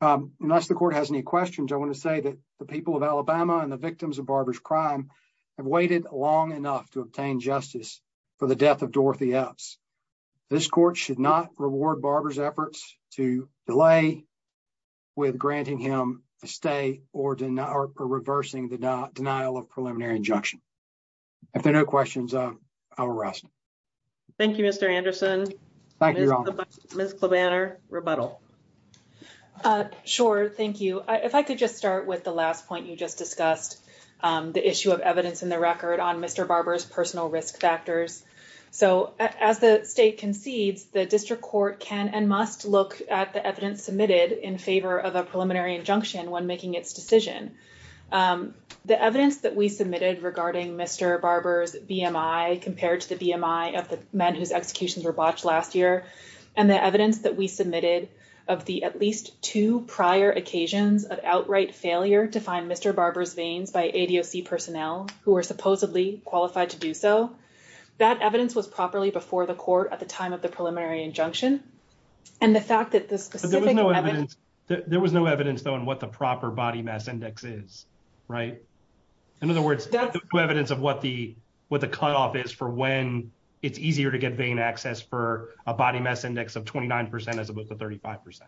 um, unless the court has any questions, I want to say that the people of Alabama and the victims of Barber's crime have waited long enough to obtain justice for the death of Dorothy Epps. This court should not reward Barber's efforts to delay with granting him a stay or denial or reversing the denial of preliminary injunction. If there are no questions, uh, I'll rebuttal. Uh, sure. Thank you. If I could just start with the last point you just discussed, um, the issue of evidence in the record on Mr. Barber's personal risk factors. So as the state concedes, the district court can and must look at the evidence submitted in favor of a preliminary injunction when making its decision. Um, the evidence that we submitted regarding Mr. Barber's BMI compared to the BMI of the men whose executions were botched last year and the evidence that we submitted of the at least two prior occasions of outright failure to find Mr. Barber's veins by ADOC personnel who are supposedly qualified to do so, that evidence was properly before the court at the time of the preliminary injunction. And the fact that the specific evidence, there was no evidence though on what the proper body mass index is, right? In other words, evidence of what the, what the cutoff is for when it's easier to get vein access for a body mass index of 29% as opposed to 35%.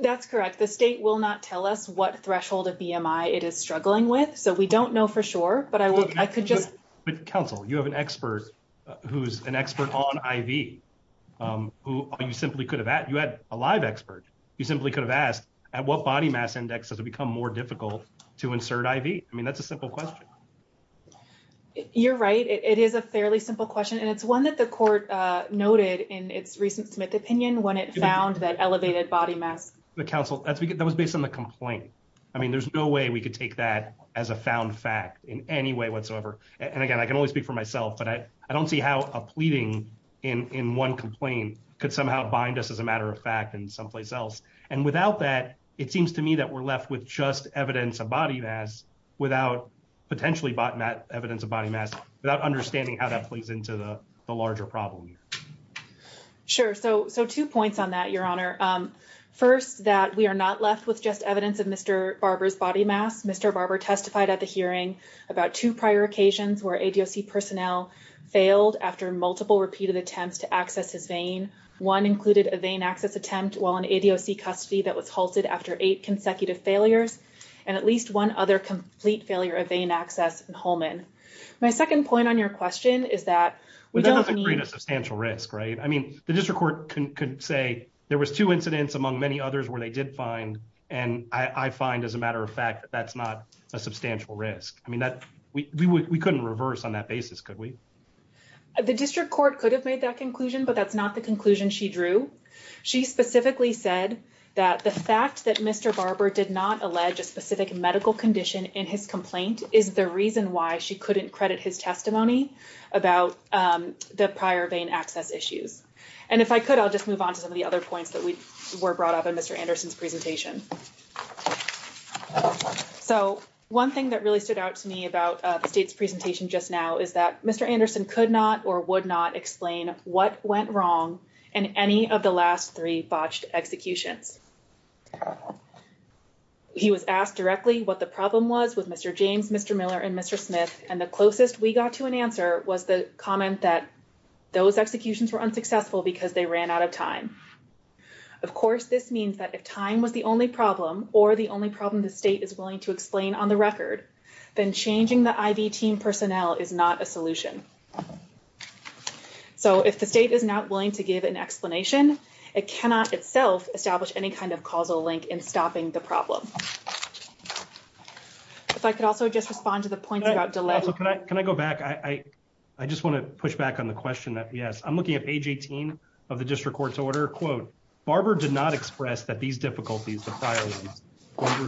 That's correct. The state will not tell us what threshold of BMI it is struggling with. So we don't know for sure, but I will, I could just, but counsel, you have an expert who's an expert on IV, um, who you simply could have at, you had a live expert. You simply could have asked at what body mass index has become more difficult to insert IV. I mean, that's a simple question. You're right. It is a fairly simple question. And it's one that the court noted in its recent Smith opinion, when it found that elevated body mass, the council that was based on the complaint. I mean, there's no way we could take that as a found fact in any way whatsoever. And again, I can only speak for myself, but I, I don't see how a pleading in, in one complaint could somehow bind us as a matter of fact and someplace else. And without that, it seems to me that we're left with just evidence of without potentially bought Matt evidence of body mass without understanding how that plays into the larger problem. Sure. So, so two points on that, your honor. Um, first that we are not left with just evidence of Mr. Barber's body mass. Mr. Barber testified at the hearing about two prior occasions where ADOC personnel failed after multiple repeated attempts to access his vein. One included a vein access attempt while an ADOC custody that was halted after eight consecutive failures. And at least one other complete failure of vein access and Holman. My second point on your question is that we don't need a substantial risk, right? I mean, the district court can say there was two incidents among many others where they did find. And I find as a matter of fact, that's not a substantial risk. I mean, that we, we, we couldn't reverse on that basis. Could we, the district court could have made that conclusion, but that's not the conclusion she drew. She specifically said that the fact that Mr. Barber did not allege a specific medical condition in his complaint is the reason why she couldn't credit his testimony about the prior vein access issues. And if I could, I'll just move on to some of the other points that we were brought up in Mr. Anderson's presentation. So one thing that really stood out to me about the state's presentation just now is that Mr. Anderson could not or would not explain what went wrong in any of the last three botched executions. He was asked directly what the problem was with Mr. James, Mr. Miller, and Mr. Smith. And the closest we got to an answer was the comment that those executions were unsuccessful because they ran out of time. Of course, this means that if time was the only problem or the only problem the state is willing to explain on the record, then changing the IV personnel is not a solution. So if the state is not willing to give an explanation, it cannot itself establish any kind of causal link in stopping the problem. If I could also just respond to the point about delay. Can I go back? I just want to push back on the question that, yes, I'm looking at age 18 of the district court's order. Quote, Barber did not express that these difficulties, the prior ones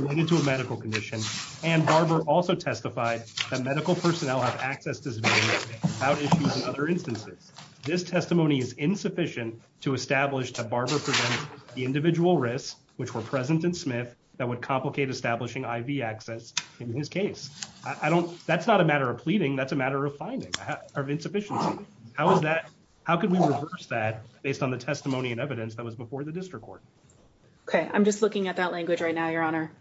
related to a medical condition. And Barber also testified that medical personnel have access to this without issues in other instances. This testimony is insufficient to establish that Barber presents the individual risks, which were present in Smith, that would complicate establishing IV access in his case. That's not a matter of pleading. That's a matter of finding, of insufficiency. How is that, how can we reverse that based on the testimony and evidence that was before the district court? Okay, I'm just looking at that language right now, Your Honor.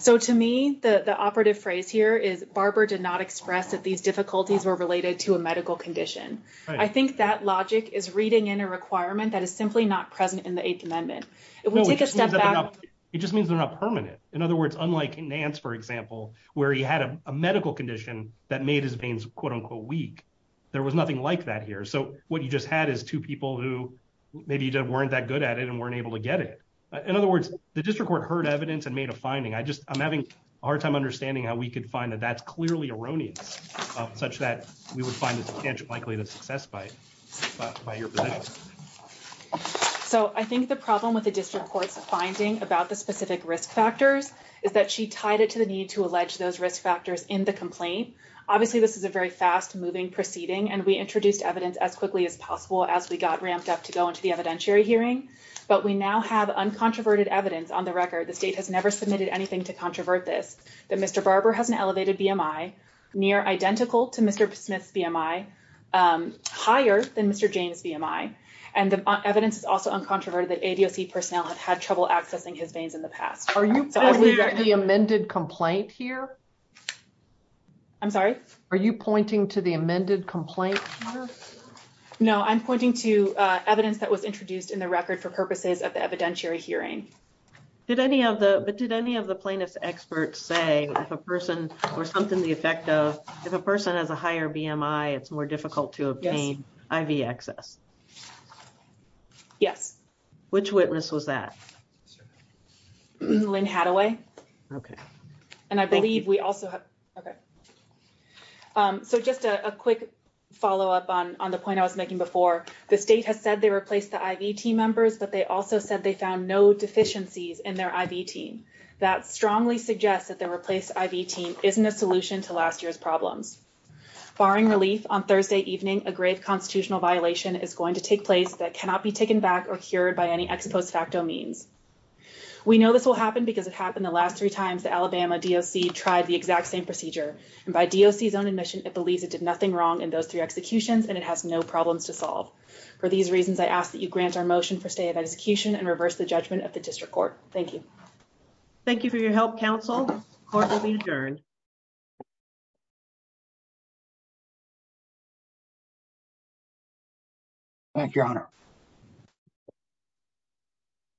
So to me, the operative phrase here is Barber did not express that these difficulties were related to a medical condition. I think that logic is reading in a requirement that is simply not present in the Eighth Amendment. It just means they're not permanent. In other words, unlike in Nance, for example, where he had a medical condition that made his veins, quote, unquote, weak. There was nothing like that here. So what you just had is two people who maybe weren't that good at it and weren't able to get it. In other words, the district court heard evidence and made a finding. I just, I'm having a hard time understanding how we could find that that's clearly erroneous, such that we would find it likely to success by your position. So I think the problem with the district court's finding about the specific risk factors is that she tied it to the need to allege those risk factors in the complaint. Obviously, this is a very fast moving proceeding, and we introduced evidence as quickly as possible as we got ramped up to go into the evidentiary hearing. But we now have uncontroverted evidence on the record. The state has never submitted anything to controvert this, that Mr. Barber has an elevated BMI near identical to Mr. Smith's BMI, higher than Mr. James' BMI. And the evidence is also uncontroverted that ADOC personnel have had trouble accessing his veins in the past. Are you pointing to the amended complaint here? I'm sorry? Are you pointing to the amended complaint here? No, I'm pointing to evidence that was introduced in the record for purposes of the evidentiary hearing. Did any of the, but did any of the plaintiff's experts say if a person or something the effect of, if a person has a higher BMI, it's more difficult to obtain IV access? Yes. Which witness was that? Lynn Hadaway. Okay. And I believe we also have, okay. So just a quick follow-up on the point I was making before, the state has said they replaced the IV team members, but they also said they found no deficiencies in their IV team. That strongly suggests that the replaced IV team isn't a solution to last year's problems. Barring relief, on Thursday evening, a grave constitutional violation is going to take place that cannot be taken back or cured by any ex post facto means. We know this will happen because it happened the last three times Alabama DOC tried the exact same procedure, and by DOC's own admission, it believes it did nothing wrong in those three executions, and it has no problems to solve. For these reasons, I ask that you grant our motion for stay of execution and reverse the judgment of the district court. Thank you. Thank you for your help, counsel. Court will be adjourned. Thank you, Your Honor.